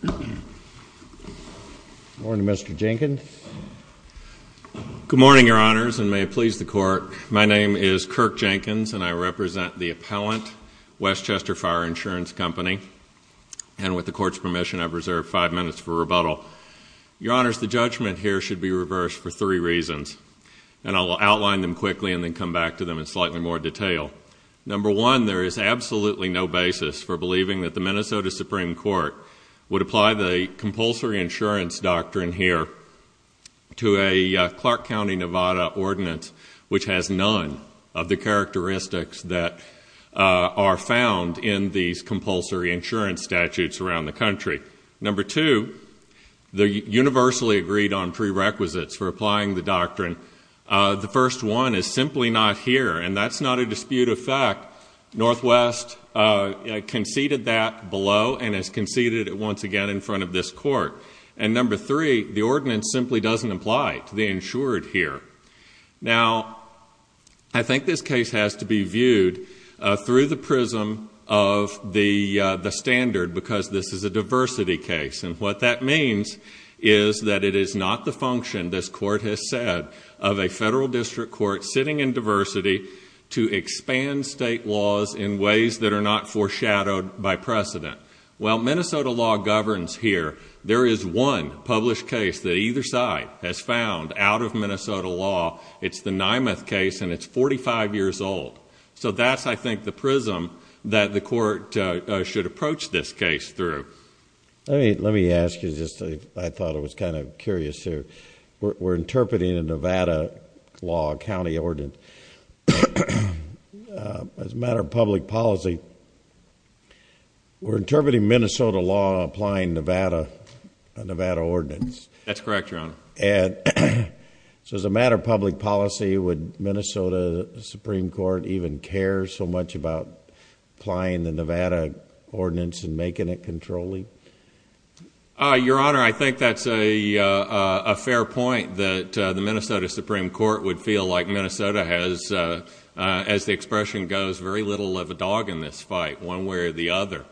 Good morning, Your Honors, and may it please the Court, my name is Kirk Jenkins and I represent the appellant, Westchester Fire Insurance Company, and with the Court's permission I've reserved five minutes for rebuttal. Your Honors, the judgment here should be reversed for three reasons, and I'll outline them quickly and then come back to them in slightly more detail. Number one, there is absolutely no basis for believing that the Minnesota Supreme Court would apply the compulsory insurance doctrine here to a Clark County, Nevada, ordinance which has none of the characteristics that are found in these compulsory insurance statutes around the country. Number two, the universally agreed on prerequisites for applying the doctrine, the first one is simply not here, and that's not a dispute of fact, Northwest conceded that below and has conceded it once again in front of this Court. And number three, the ordinance simply doesn't apply to the insured here. Now, I think this case has to be viewed through the prism of the standard because this is a diversity case, and what that means is that it is not the function, this Court has said, of a federal district court sitting in diversity to expand state laws in ways that are not foreshadowed by precedent. While Minnesota law governs here, there is one published case that either side has found out of Minnesota law, it's the Nymeth case and it's forty-five years old. So that's, I think, the prism that the Court should approach this case through. Let me ask you, I thought it was kind of curious here, we're interpreting a Nevada law, a county ordinance, as a matter of public policy, we're interpreting Minnesota law applying a Nevada ordinance. That's correct, Your Honor. So as a matter of public policy, would Minnesota Supreme Court even care so much about applying the Nevada ordinance and making it controlling? Your Honor, I think that's a fair point that the Minnesota Supreme Court would feel like Minnesota has, as the expression goes, very little of a dog in this fight, one way or the other.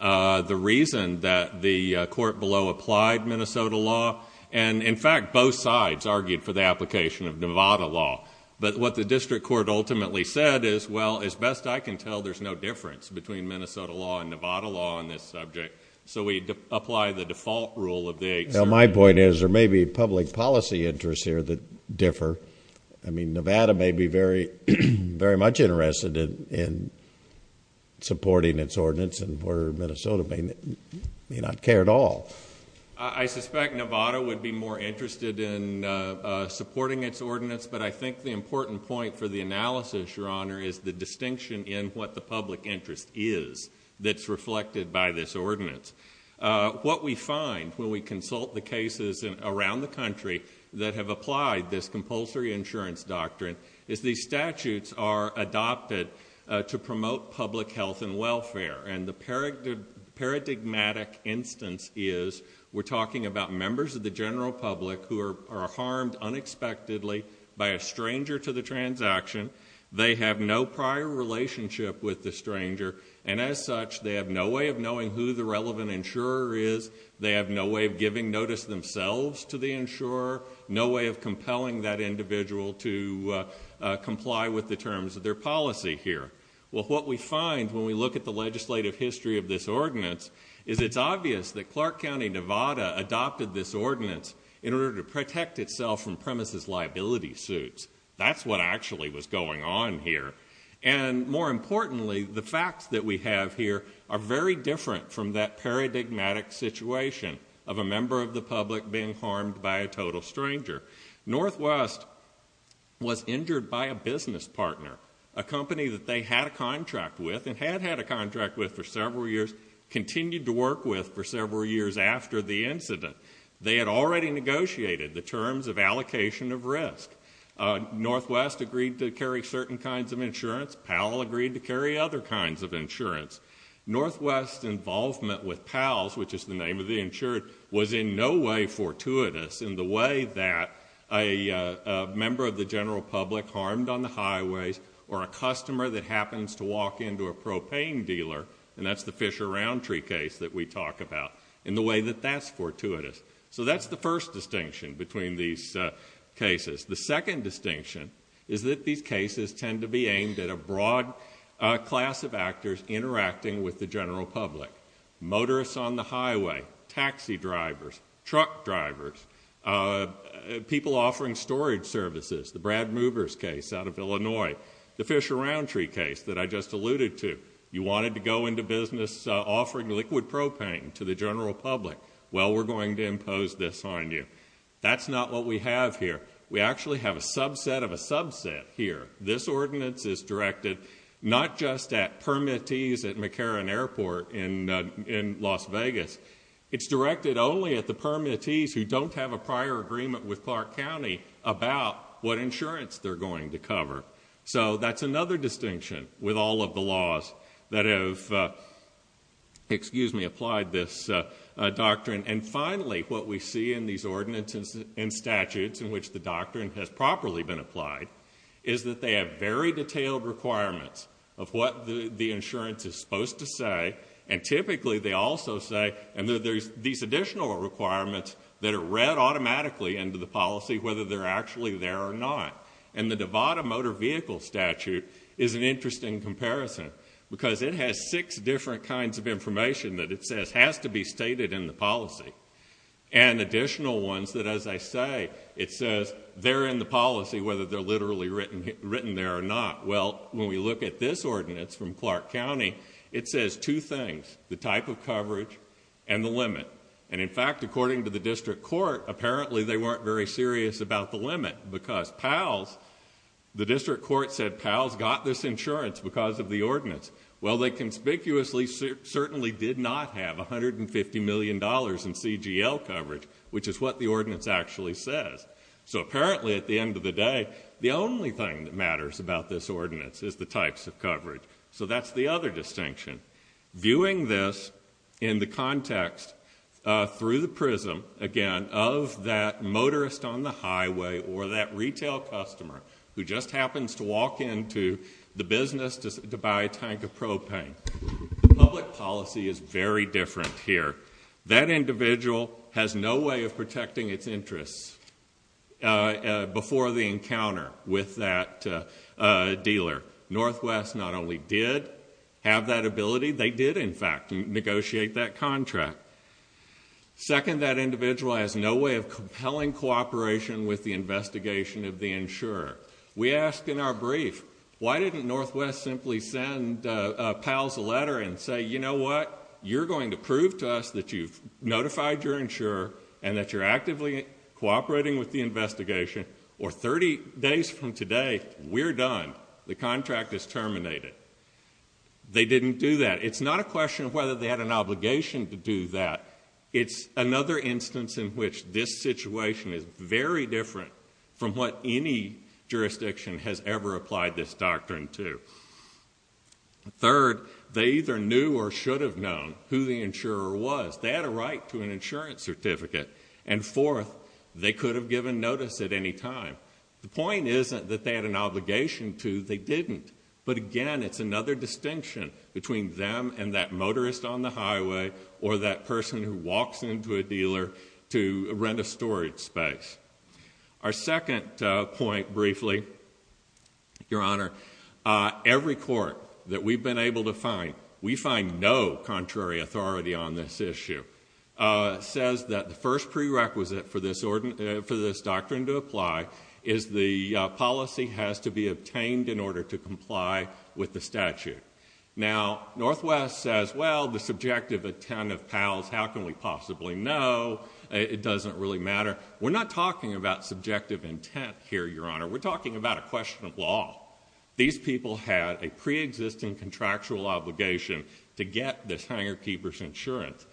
The reason that the Court below applied Minnesota law, and in fact both sides argued for the application of Nevada law, but what the district court ultimately said is, well, as best I can tell, there's no difference between Minnesota law and Nevada law on this subject. So we apply the default rule of the 8th Circuit. Well, my point is, there may be public policy interests here that differ, I mean, Nevada may be very much interested in supporting its ordinance and where Minnesota may not care at all. I suspect Nevada would be more interested in supporting its ordinance, but I think the analysis, Your Honor, is the distinction in what the public interest is that's reflected by this ordinance. What we find when we consult the cases around the country that have applied this compulsory insurance doctrine is these statutes are adopted to promote public health and welfare, and the paradigmatic instance is we're talking about members of the general public who are no prior relationship with the stranger, and as such, they have no way of knowing who the relevant insurer is, they have no way of giving notice themselves to the insurer, no way of compelling that individual to comply with the terms of their policy here. Well, what we find when we look at the legislative history of this ordinance is it's obvious that Clark County, Nevada adopted this ordinance in order to protect itself from premises liability suits. That's what actually was going on here, and more importantly, the facts that we have here are very different from that paradigmatic situation of a member of the public being harmed by a total stranger. Northwest was injured by a business partner, a company that they had a contract with and had had a contract with for several years, continued to work with for several years after the incident. They had already negotiated the terms of allocation of risk. Northwest agreed to carry certain kinds of insurance, Powell agreed to carry other kinds of insurance. Northwest's involvement with Powell's, which is the name of the insurer, was in no way fortuitous in the way that a member of the general public harmed on the highways, or a customer that happens to walk into a propane dealer, and that's the Fisher Roundtree case that we talk about, in the way that that's fortuitous. So that's the first distinction between these cases. The second distinction is that these cases tend to be aimed at a broad class of actors interacting with the general public, motorists on the highway, taxi drivers, truck drivers, people offering storage services, the Brad Movers case out of Illinois, the Fisher Roundtree case that I just alluded to. You wanted to go into business offering liquid propane to the general public, well we're going to impose this on you. That's not what we have here. We actually have a subset of a subset here. This ordinance is directed not just at permittees at McCarran Airport in Las Vegas, it's directed only at the permittees who don't have a prior agreement with Clark County about what insurance they're going to cover. So that's another distinction with all of the laws that have applied this doctrine. And finally, what we see in these ordinances and statutes in which the doctrine has properly been applied, is that they have very detailed requirements of what the insurance is supposed to say, and typically they also say, and there's these additional requirements that are read automatically into the policy, whether they're actually there or not. And the Nevada Motor Vehicle Statute is an interesting comparison, because it has six different kinds of information that it says has to be stated in the policy. And additional ones that, as I say, it says they're in the policy whether they're literally written there or not. Well, when we look at this ordinance from Clark County, it says two things, the type of coverage and the limit. And in fact, according to the district court, apparently they weren't very serious about the limit, because PALS, the district court said PALS got this insurance because of the ordinance. Well they conspicuously certainly did not have $150 million in CGL coverage, which is what the ordinance actually says. So apparently at the end of the day, the only thing that matters about this ordinance is the types of coverage. So that's the other distinction. Viewing this in the context, through the prism, again, of that motorist on the highway or that retail customer who just happens to walk into the business to buy a tank of propane. Public policy is very different here. That individual has no way of protecting its interests before the encounter with that dealer. Northwest not only did have that ability, they did in fact negotiate that contract. Second, that individual has no way of compelling cooperation with the investigation of the insurer. We asked in our brief, why didn't Northwest simply send PALS a letter and say, you know what, you're going to prove to us that you've notified your insurer and that you're actively cooperating with the investigation, or 30 days from today, we're done. The contract is terminated. They didn't do that. It's not a question of whether they had an obligation to do that. It's another instance in which this situation is very different from what any jurisdiction has ever applied this doctrine to. Third, they either knew or should have known who the insurer was. They had a right to an insurance certificate. And fourth, they could have given notice at any time. The point isn't that they had an obligation to, they didn't. But again, it's another distinction between them and that motorist on the highway or that person who walks into a dealer to rent a storage space. Our second point briefly, Your Honor, every court that we've been able to find, we find no contrary authority on this issue, says that the first prerequisite for this doctrine to apply is the policy has to be obtained in order to comply with the statute. Now, Northwest says, well, the subjective intent of PALS, how can we possibly know? It doesn't really matter. We're not talking about subjective intent here, Your Honor. We're talking about a question of law. These people had a preexisting contractual obligation to get this hangar keeper's insurance.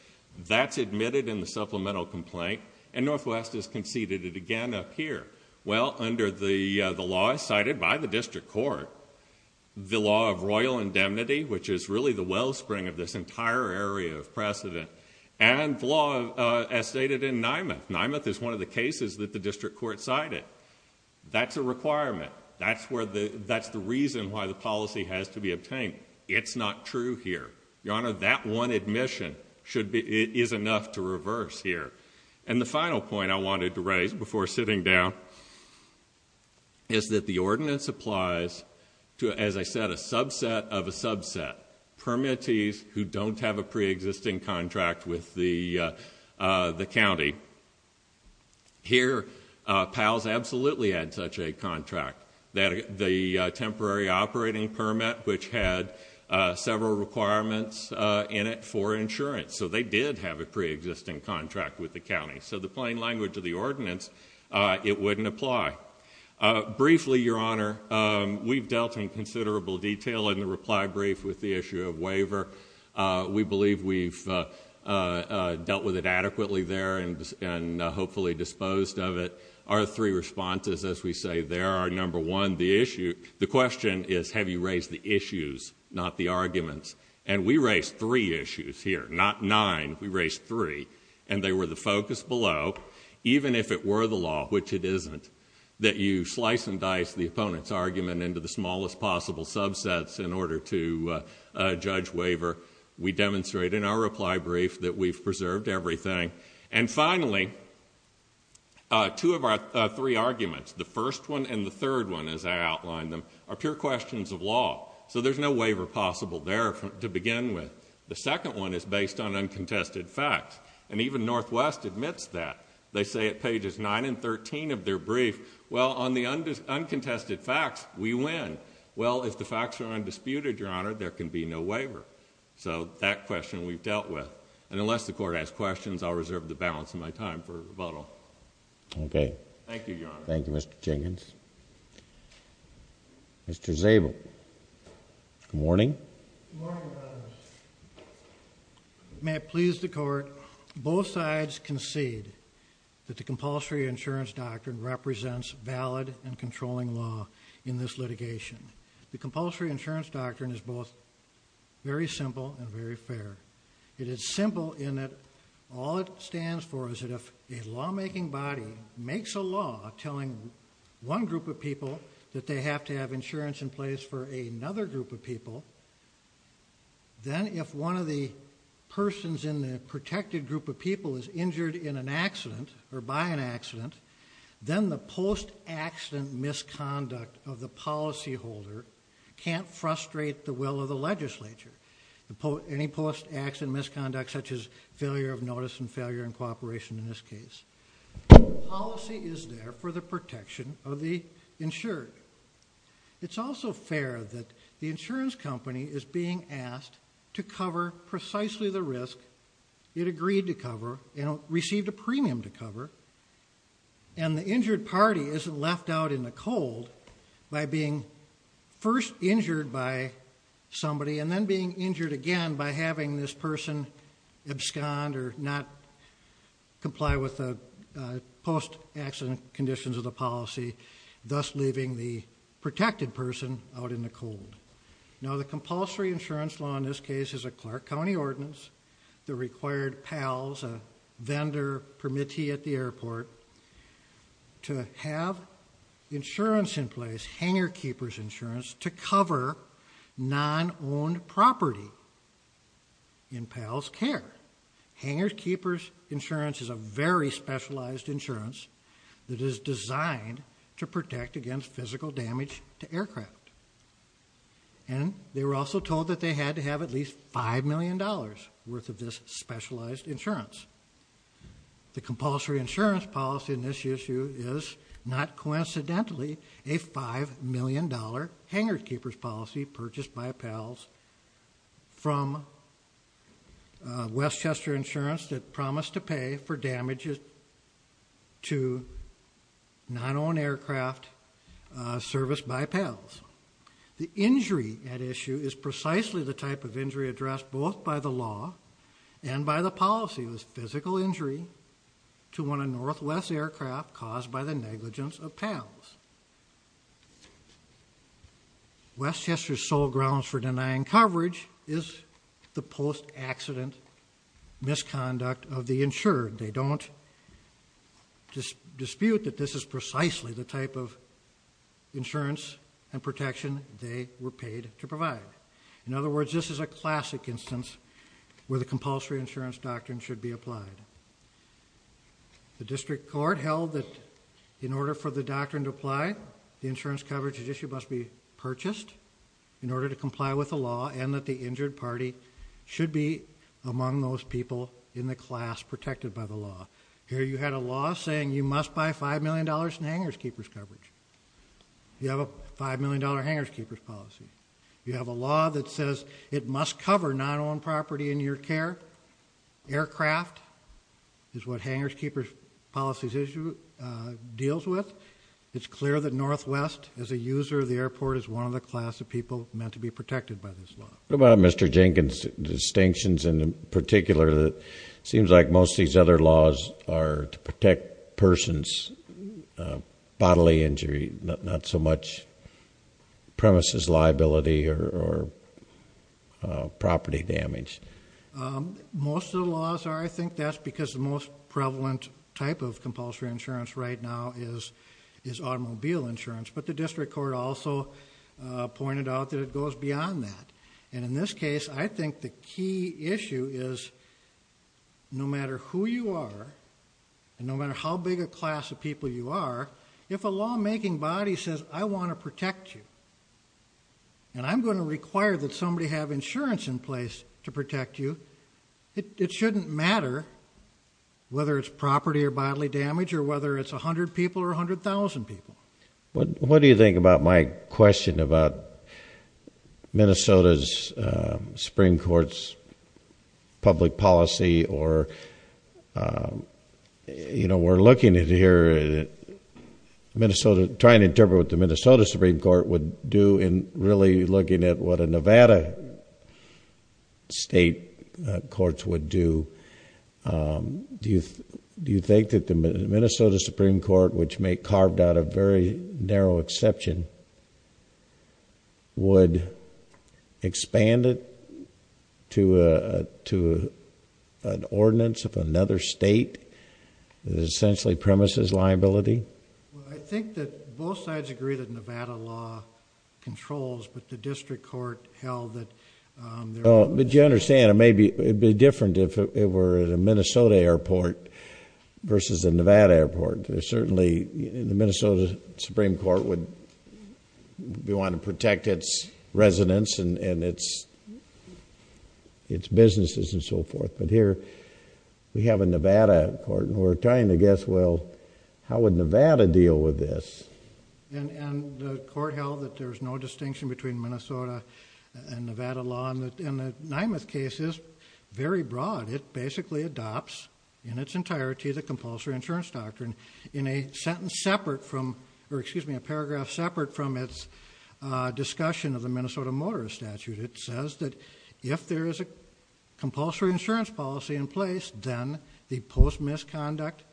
That's admitted in the supplemental complaint, and Northwest has conceded it again up here Well, under the law cited by the district court, the law of royal indemnity, which is really the wellspring of this entire area of precedent, and the law as stated in Nymath. Nymath is one of the cases that the district court cited. That's a requirement. That's the reason why the policy has to be obtained. It's not true here. Your Honor, that one admission is enough to reverse here. And the final point I wanted to raise before sitting down is that the ordinance applies to, as I said, a subset of a subset, permittees who don't have a preexisting contract with the county. Here, PALS absolutely had such a contract, the temporary operating permit, which had several requirements in it for insurance. So they did have a preexisting contract with the county. So the plain language of the ordinance, it wouldn't apply. Briefly, Your Honor, we've dealt in considerable detail in the reply brief with the issue of waiver. We believe we've dealt with it adequately there and hopefully disposed of it. Our three responses, as we say there, are number one, the issue. The question is, have you raised the issues, not the arguments? And we raised three issues here, not nine. We raised three. And they were the focus below, even if it were the law, which it isn't, that you slice and dice the opponent's argument into the smallest possible subsets in order to judge waiver. We demonstrate in our reply brief that we've preserved everything. And finally, two of our three arguments, the first one and the third one, as I outlined them, are pure questions of law. So there's no waiver possible there to begin with. The second one is based on uncontested facts. And even Northwest admits that. They say at pages 9 and 13 of their brief, well, on the uncontested facts, we win. Well, if the facts are undisputed, Your Honor, there can be no waiver. So that question we've dealt with. And unless the court has questions, I'll reserve the balance of my time for rebuttal. OK. Thank you, Your Honor. Thank you, Mr. Jenkins. Mr. Zabel. Good morning. Good morning, Your Honor. May it please the court, both sides concede that the compulsory insurance doctrine represents valid and controlling law in this litigation. The compulsory insurance doctrine is both very simple and very fair. It is simple in that all it stands for is that if a lawmaking body makes a law telling one group of people that they have to have insurance in place for another group of people, then if one of the persons in the protected group of people is injured in an accident or by an accident, then the post-accident misconduct of the policy holder can't frustrate the will of the legislature. Any post-accident misconduct, such as failure of notice and failure in cooperation in this case. The policy is there for the protection of the insured. It's also fair that the insurance company is being asked to cover precisely the risk it agreed to cover and received a premium to cover, and the injured party isn't left out in the cold by being first injured by somebody and then being injured again by having this person abscond or not comply with the post-accident conditions of the policy, thus leaving the protected person out in the cold. Now the compulsory insurance law in this case is a Clark County ordinance that required PALS, a vendor permittee at the airport, to have insurance in place, hangar keeper's insurance, to cover non-owned property in PALS care. Hangar keeper's insurance is a very specialized insurance that is designed to protect against physical damage to aircraft, and they were also told that they had to have at least $5 million worth of this specialized insurance. The compulsory insurance policy in this issue is, not coincidentally, a $5 million hangar keeper's policy purchased by PALS from Westchester Insurance that promised to pay for damages to non-owned aircraft serviced by PALS. The injury at issue is precisely the type of injury addressed both by the law and by the policy was physical injury to one of Northwest's aircraft caused by the negligence of PALS. Westchester's sole grounds for denying coverage is the post-accident misconduct of the insured. They don't dispute that this is precisely the type of insurance and protection they were paid to provide. In other words, this is a classic instance where the compulsory insurance doctrine should be applied. The district court held that in order for the doctrine to apply, the insurance coverage at issue must be purchased in order to comply with the law and that the injured party should be among those people in the class protected by the law. Here you had a law saying you must buy $5 million in hangar keeper's coverage. You have a $5 million hangar keeper's policy. You have a law that says it must cover non-owned property in your care, aircraft is what hangar keeper's policy deals with. It's clear that Northwest, as a user of the airport, is one of the class of people meant to be protected by this law. What about Mr. Jenkins' distinctions in particular that seems like most of these other laws are to protect persons. Bodily injury, not so much premises liability or property damage. Most of the laws are, I think, that's because the most prevalent type of compulsory insurance right now is automobile insurance. But the district court also pointed out that it goes beyond that. And in this case, I think the key issue is no matter who you are and no matter how big a class of people you are, if a law making body says, I want to protect you. And I'm going to require that somebody have insurance in place to protect you. It shouldn't matter whether it's property or bodily damage or whether it's 100 people or 100,000 people. What do you think about my question about Minnesota's Supreme Court's public policy or we're looking at here, trying to interpret what the Minnesota Supreme Court would do in really looking at what a Nevada state courts would do. Do you think that the Minnesota Supreme Court, which may carved out a very narrow exception, would expand it to an ordinance of another state that essentially premises liability? I think that both sides agree that Nevada law controls, but the district court held that- But you understand, it'd be different if it were a Minnesota airport versus a Nevada airport. Certainly, the Minnesota Supreme Court would want to protect its residents and its businesses and so forth. But here, we have a Nevada court and we're trying to guess, well, how would Nevada deal with this? And the court held that there's no distinction between Minnesota and Nevada law. And the Nymath case is very broad. It basically adopts in its entirety the compulsory insurance doctrine in a sentence separate from, or excuse me, a paragraph separate from its discussion of the Minnesota Motorist Statute. It says that if there is a compulsory insurance policy in place, then the post misconduct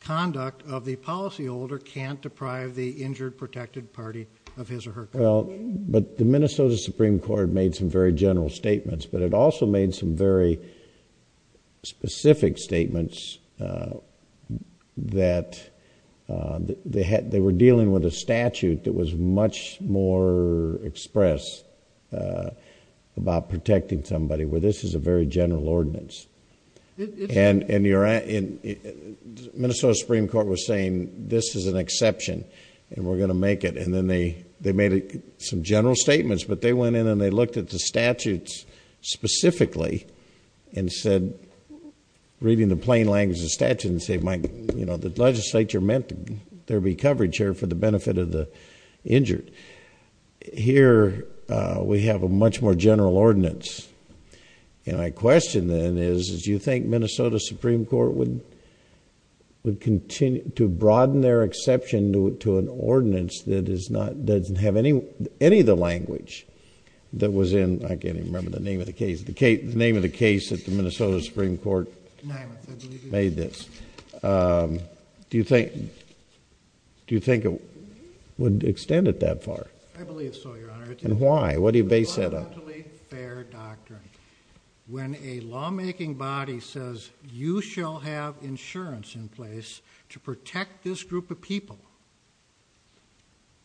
conduct of the policyholder can't deprive the injured protected party of his or her- Well, but the Minnesota Supreme Court made some very general statements, but it also made some very specific statements that they were dealing with a statute that was much more expressed about protecting somebody where this is a very general ordinance. And Minnesota Supreme Court was saying, this is an exception and we're going to make it. And then they made some general statements, but they went in and they looked at the statutes specifically and said, reading the plain language of the statute, and said, the legislature meant there'd be coverage here for the benefit of the injured. Here, we have a much more general ordinance. And my question then is, do you think Minnesota Supreme Court would continue to broaden their exception to an ordinance that doesn't have any of the language that was in, I can't even remember the name of the case, the name of the case that the Minnesota Supreme Court made this. Do you think it would extend it that far? I believe so, Your Honor. And why? What do you base that on? It's a fundamentally fair doctrine. When a lawmaking body says, you shall have insurance in place to protect this group of people,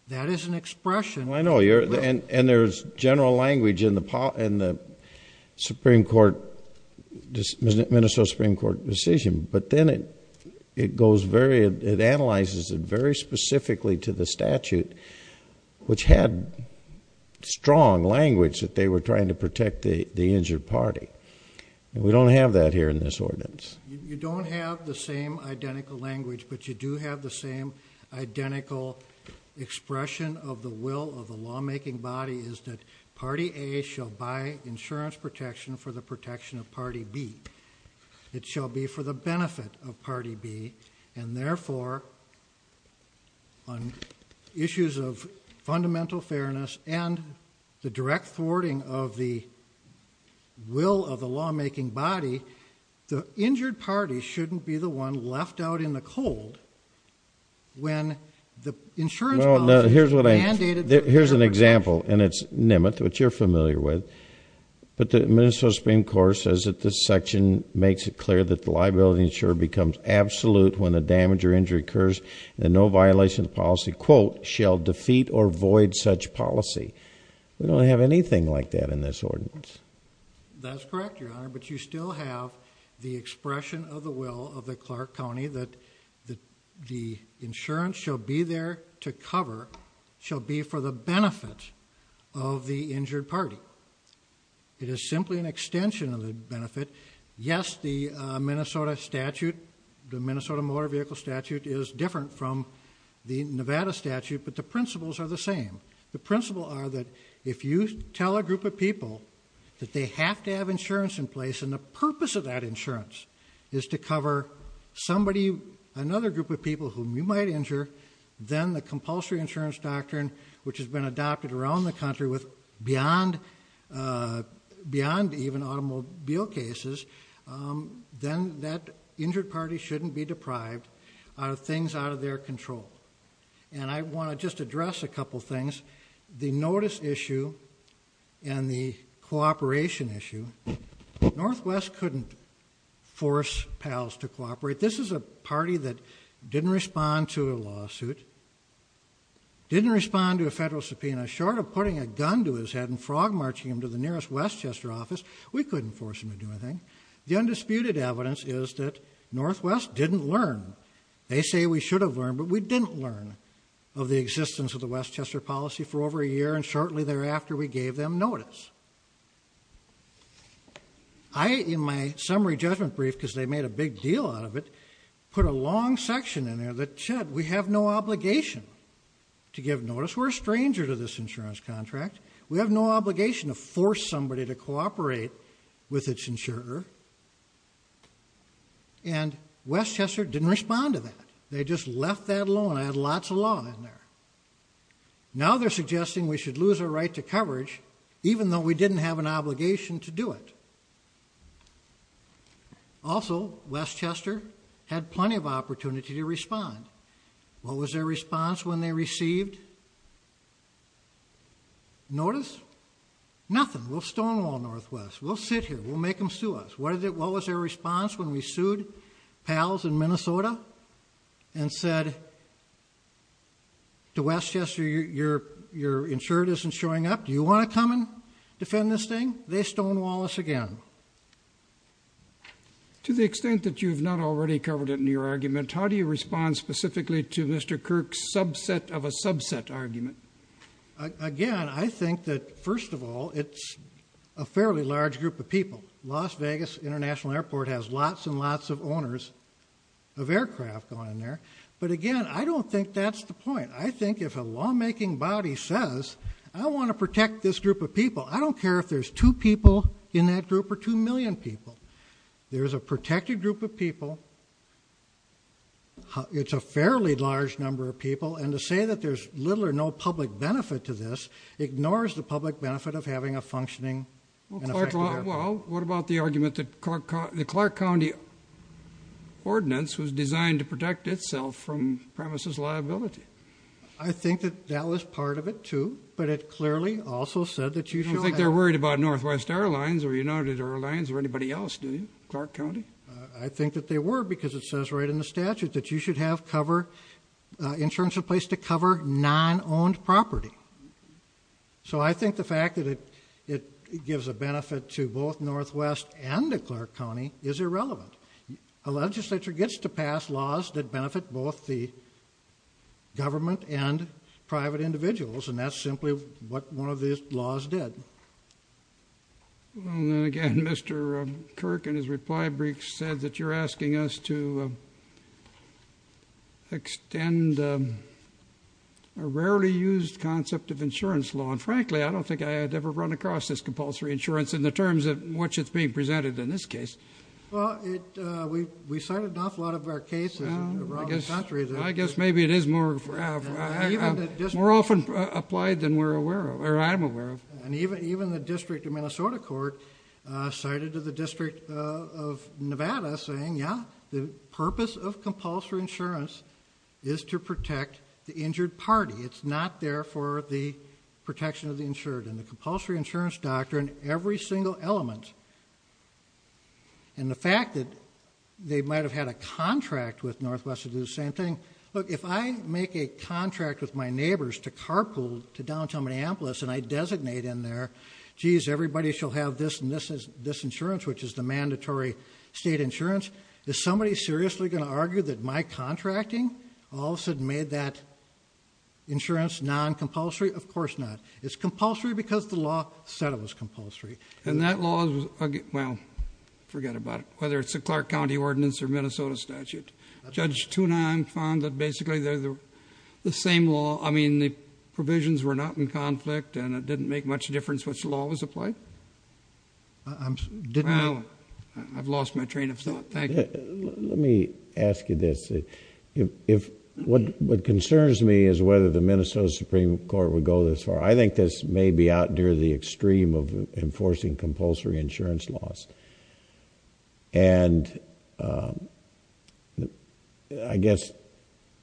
that is an expression of will. I know, and there's general language in the Minnesota Supreme Court decision. But then it goes very, it analyzes it very specifically to the statute, which had strong language that they were trying to protect the injured party. We don't have that here in this ordinance. You don't have the same identical language, but you do have the same identical expression of the will of the lawmaking body is that Party A shall buy insurance protection for the protection of Party B. It shall be for the benefit of Party B. And therefore, on issues of fundamental fairness and the direct thwarting of the will of the lawmaking body, the injured party shouldn't be the one left out in the cold when the insurance policy is mandated. Here's an example, and it's Nimmoth, which you're familiar with. But the Minnesota Supreme Court says that this section makes it clear that the liability insurer becomes absolute when a damage or injury occurs and no violation of policy, quote, shall defeat or void such policy. We don't have anything like that in this ordinance. That's correct, Your Honor, but you still have the expression of the will of the Clark County that the insurance shall be there to cover, shall be for the benefit of the injured party. It is simply an extension of the benefit. Yes, the Minnesota statute, the Minnesota Motor Vehicle Statute is different from the Nevada statute, but the principles are the same. The principles are that if you tell a group of people that they have to have insurance in place and the purpose of that insurance is to cover somebody, another group of people whom you might injure, then the compulsory insurance doctrine, which has been adopted around the country beyond even automobile cases, then that injured party shouldn't be deprived of things out of their control. And I want to just address a couple things. The notice issue and the cooperation issue, Northwest couldn't force PALS to cooperate. This is a party that didn't respond to a lawsuit, didn't respond to a federal subpoena, short of putting a gun to his head and frog-marching him to the nearest Westchester office, we couldn't force him to do anything. The undisputed evidence is that Northwest didn't learn. They say we should have learned, but we didn't learn of the existence of the Westchester policy for over a year, and shortly thereafter we gave them notice. I, in my summary judgment brief, because they made a big deal out of it, put a long section in there that said we have no obligation to give notice. We're a stranger to this insurance contract. We have no obligation to force somebody to cooperate with its insurer. And Westchester didn't respond to that. They just left that alone. I had lots of law in there. Now they're suggesting we should lose our right to coverage, even though we didn't have an obligation to do it. Also, Westchester had plenty of opportunity to respond. What was their response when they received notice? Nothing. We'll stonewall Northwest. We'll sit here. We'll make them sue us. What was their response when we sued PALS in Minnesota and said to Westchester, your insurer isn't showing up. Do you want to come and defend this thing? They stonewall us again. To the extent that you've not already covered it in your argument, how do you respond specifically to Mr. Kirk's subset of a subset argument? Again, I think that, first of all, it's a fairly large group of people. Las Vegas International Airport has lots and lots of owners of aircraft on there. But, again, I don't think that's the point. I think if a lawmaking body says I want to protect this group of people, I don't care if there's two people in that group or two million people. There's a protected group of people. It's a fairly large number of people. And to say that there's little or no public benefit to this ignores the public benefit of having a functioning and effective airport. Well, what about the argument that the Clark County ordinance was designed to protect itself from premises liability? I think that that was part of it, too. But it clearly also said that you should have it. I think that they were because it says right in the statute that you should have cover in terms of place to cover non-owned property. So I think the fact that it gives a benefit to both Northwest and to Clark County is irrelevant. A legislature gets to pass laws that benefit both the government and private individuals, and that's simply what one of these laws did. Well, then again, Mr. Kirk in his reply brief said that you're asking us to extend a rarely used concept of insurance law. And frankly, I don't think I had ever run across this compulsory insurance in the terms in which it's being presented in this case. Well, we cited an awful lot of our cases around the country. I guess maybe it is more often applied than we're aware of, or I'm aware of. And even the District of Minnesota court cited the District of Nevada saying, yeah, the purpose of compulsory insurance is to protect the injured party. It's not there for the protection of the insured. And the compulsory insurance doctrine, every single element, and the fact that they might have had a contract with Northwest to do the same thing. Look, if I make a contract with my neighbors to carpool to downtown Minneapolis and I designate in there, geez, everybody shall have this and this insurance, which is the mandatory state insurance, is somebody seriously going to argue that my contracting all of a sudden made that insurance non-compulsory? Of course not. It's compulsory because the law said it was compulsory. And that law was, well, forget about it, whether it's a Clark County ordinance or Minnesota statute. Judge Tunheim found that basically they're the same law. Well, I mean, the provisions were not in conflict and it didn't make much difference which law was applied? Well, I've lost my train of thought. Thank you. Let me ask you this. What concerns me is whether the Minnesota Supreme Court would go this far. I think this may be out near the extreme of enforcing compulsory insurance laws. And I guess,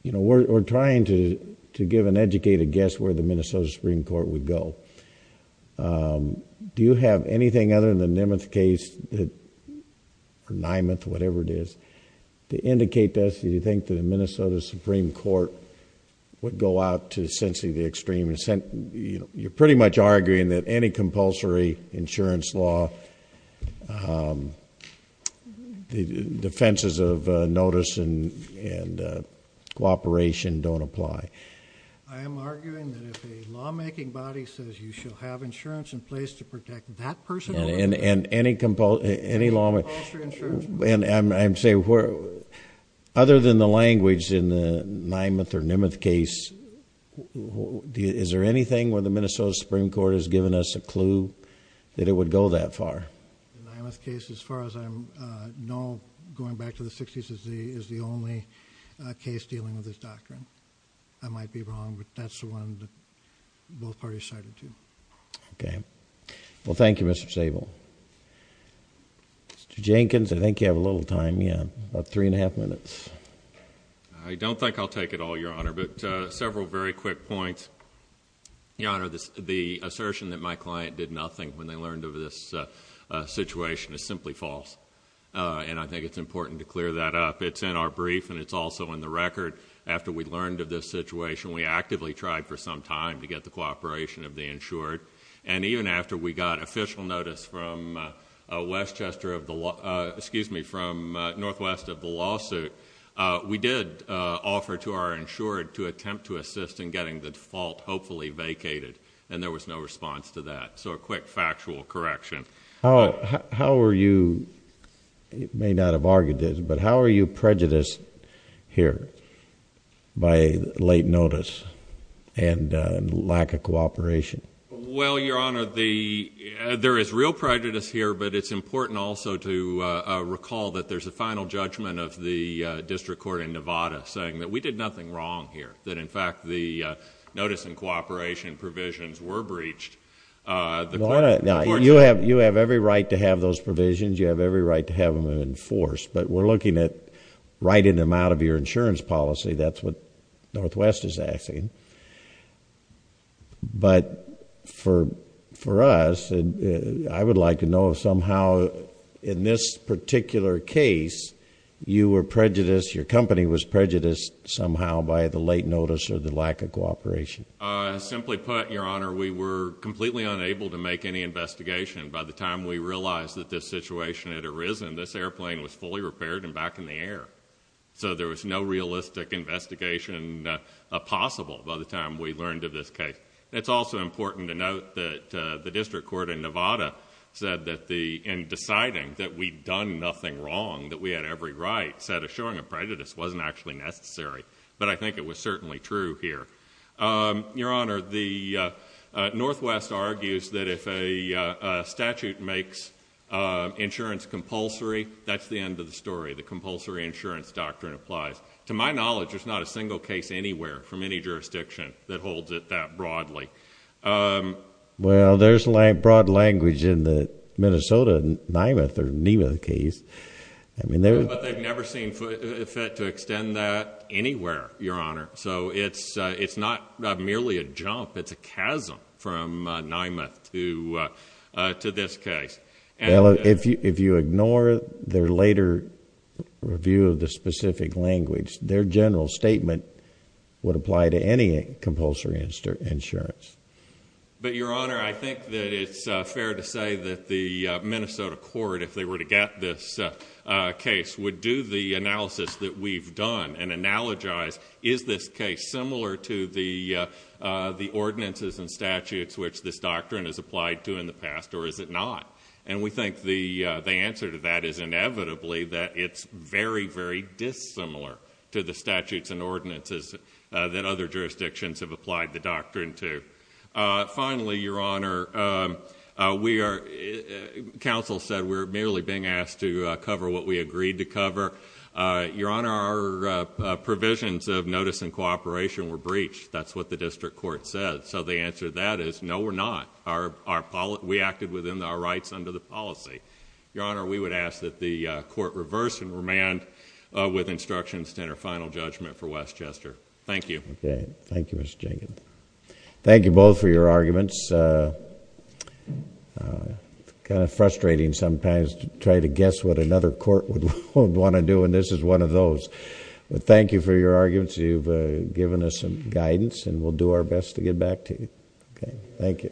you know, we're trying to give an educated guess where the Minnesota Supreme Court would go. Do you have anything other than the Nimmuth case, or Nimmuth, whatever it is, to indicate to us, do you think that the Minnesota Supreme Court would go out to essentially the extreme? You're pretty much arguing that any compulsory insurance law, the defenses of notice and cooperation don't apply. I am arguing that if a lawmaking body says you should have insurance in place to protect that person. And any lawmaker. And I'm saying, other than the language in the Nimmuth or Nimmuth case, is there anything where the Minnesota Supreme Court has given us a clue that it would go that far? The Nimmuth case, as far as I know, going back to the 60s, is the only case dealing with this doctrine. I might be wrong, but that's the one that both parties cited to. Okay. Well, thank you, Mr. Sable. Mr. Jenkins, I think you have a little time. Yeah, about three and a half minutes. I don't think I'll take it all, Your Honor, but several very quick points. Your Honor, the assertion that my client did nothing when they learned of this situation is simply false. And I think it's important to clear that up. It's in our brief, and it's also in the record. After we learned of this situation, we actively tried for some time to get the cooperation of the insured. And even after we got official notice from northwest of the lawsuit, we did offer to our insured to attempt to assist in getting the default hopefully vacated, and there was no response to that. So a quick factual correction. How are you, you may not have argued this, but how are you prejudiced here by late notice and lack of cooperation? Well, Your Honor, there is real prejudice here, but it's important also to recall that there's a final judgment of the district court in Nevada saying that we did nothing wrong here, that in fact the notice and cooperation provisions were breached. You have every right to have those provisions. You have every right to have them enforced. But we're looking at writing them out of your insurance policy. That's what northwest is asking. But for us, I would like to know if somehow in this particular case you were prejudiced, your company was prejudiced somehow by the late notice or the lack of cooperation. Simply put, Your Honor, we were completely unable to make any investigation. By the time we realized that this situation had arisen, this airplane was fully repaired and back in the air. So there was no realistic investigation possible by the time we learned of this case. It's also important to note that the district court in Nevada said that in deciding that we'd done nothing wrong, that we had every right, said assuring a prejudice wasn't actually necessary. But I think it was certainly true here. Your Honor, northwest argues that if a statute makes insurance compulsory, that's the end of the story. The compulsory insurance doctrine applies. To my knowledge, there's not a single case anywhere from any jurisdiction that holds it that broadly. Well, there's broad language in the Minnesota NIMA case. But they've never seen fit to extend that anywhere, Your Honor. So it's not merely a jump. It's a chasm from NIMA to this case. Well, if you ignore their later review of the specific language, their general statement would apply to any compulsory insurance. But, Your Honor, I think that it's fair to say that the Minnesota court, if they were to get this case, would do the analysis that we've done and analogize, is this case similar to the ordinances and statutes which this doctrine has applied to in the past, or is it not? And we think the answer to that is inevitably that it's very, very dissimilar to the statutes and ordinances that other jurisdictions have applied the doctrine to. Finally, Your Honor, counsel said we're merely being asked to cover what we agreed to cover. Your Honor, our provisions of notice and cooperation were breached. That's what the district court said. So the answer to that is no, we're not. We acted within our rights under the policy. Your Honor, we would ask that the court reverse and remand with instructions to enter final judgment for Westchester. Thank you. Okay. Thank you, Mr. Jenkins. Thank you both for your arguments. It's kind of frustrating sometimes to try to guess what another court would want to do, and this is one of those. But thank you for your arguments. You've given us some guidance, and we'll do our best to get back to you. Okay. Thank you.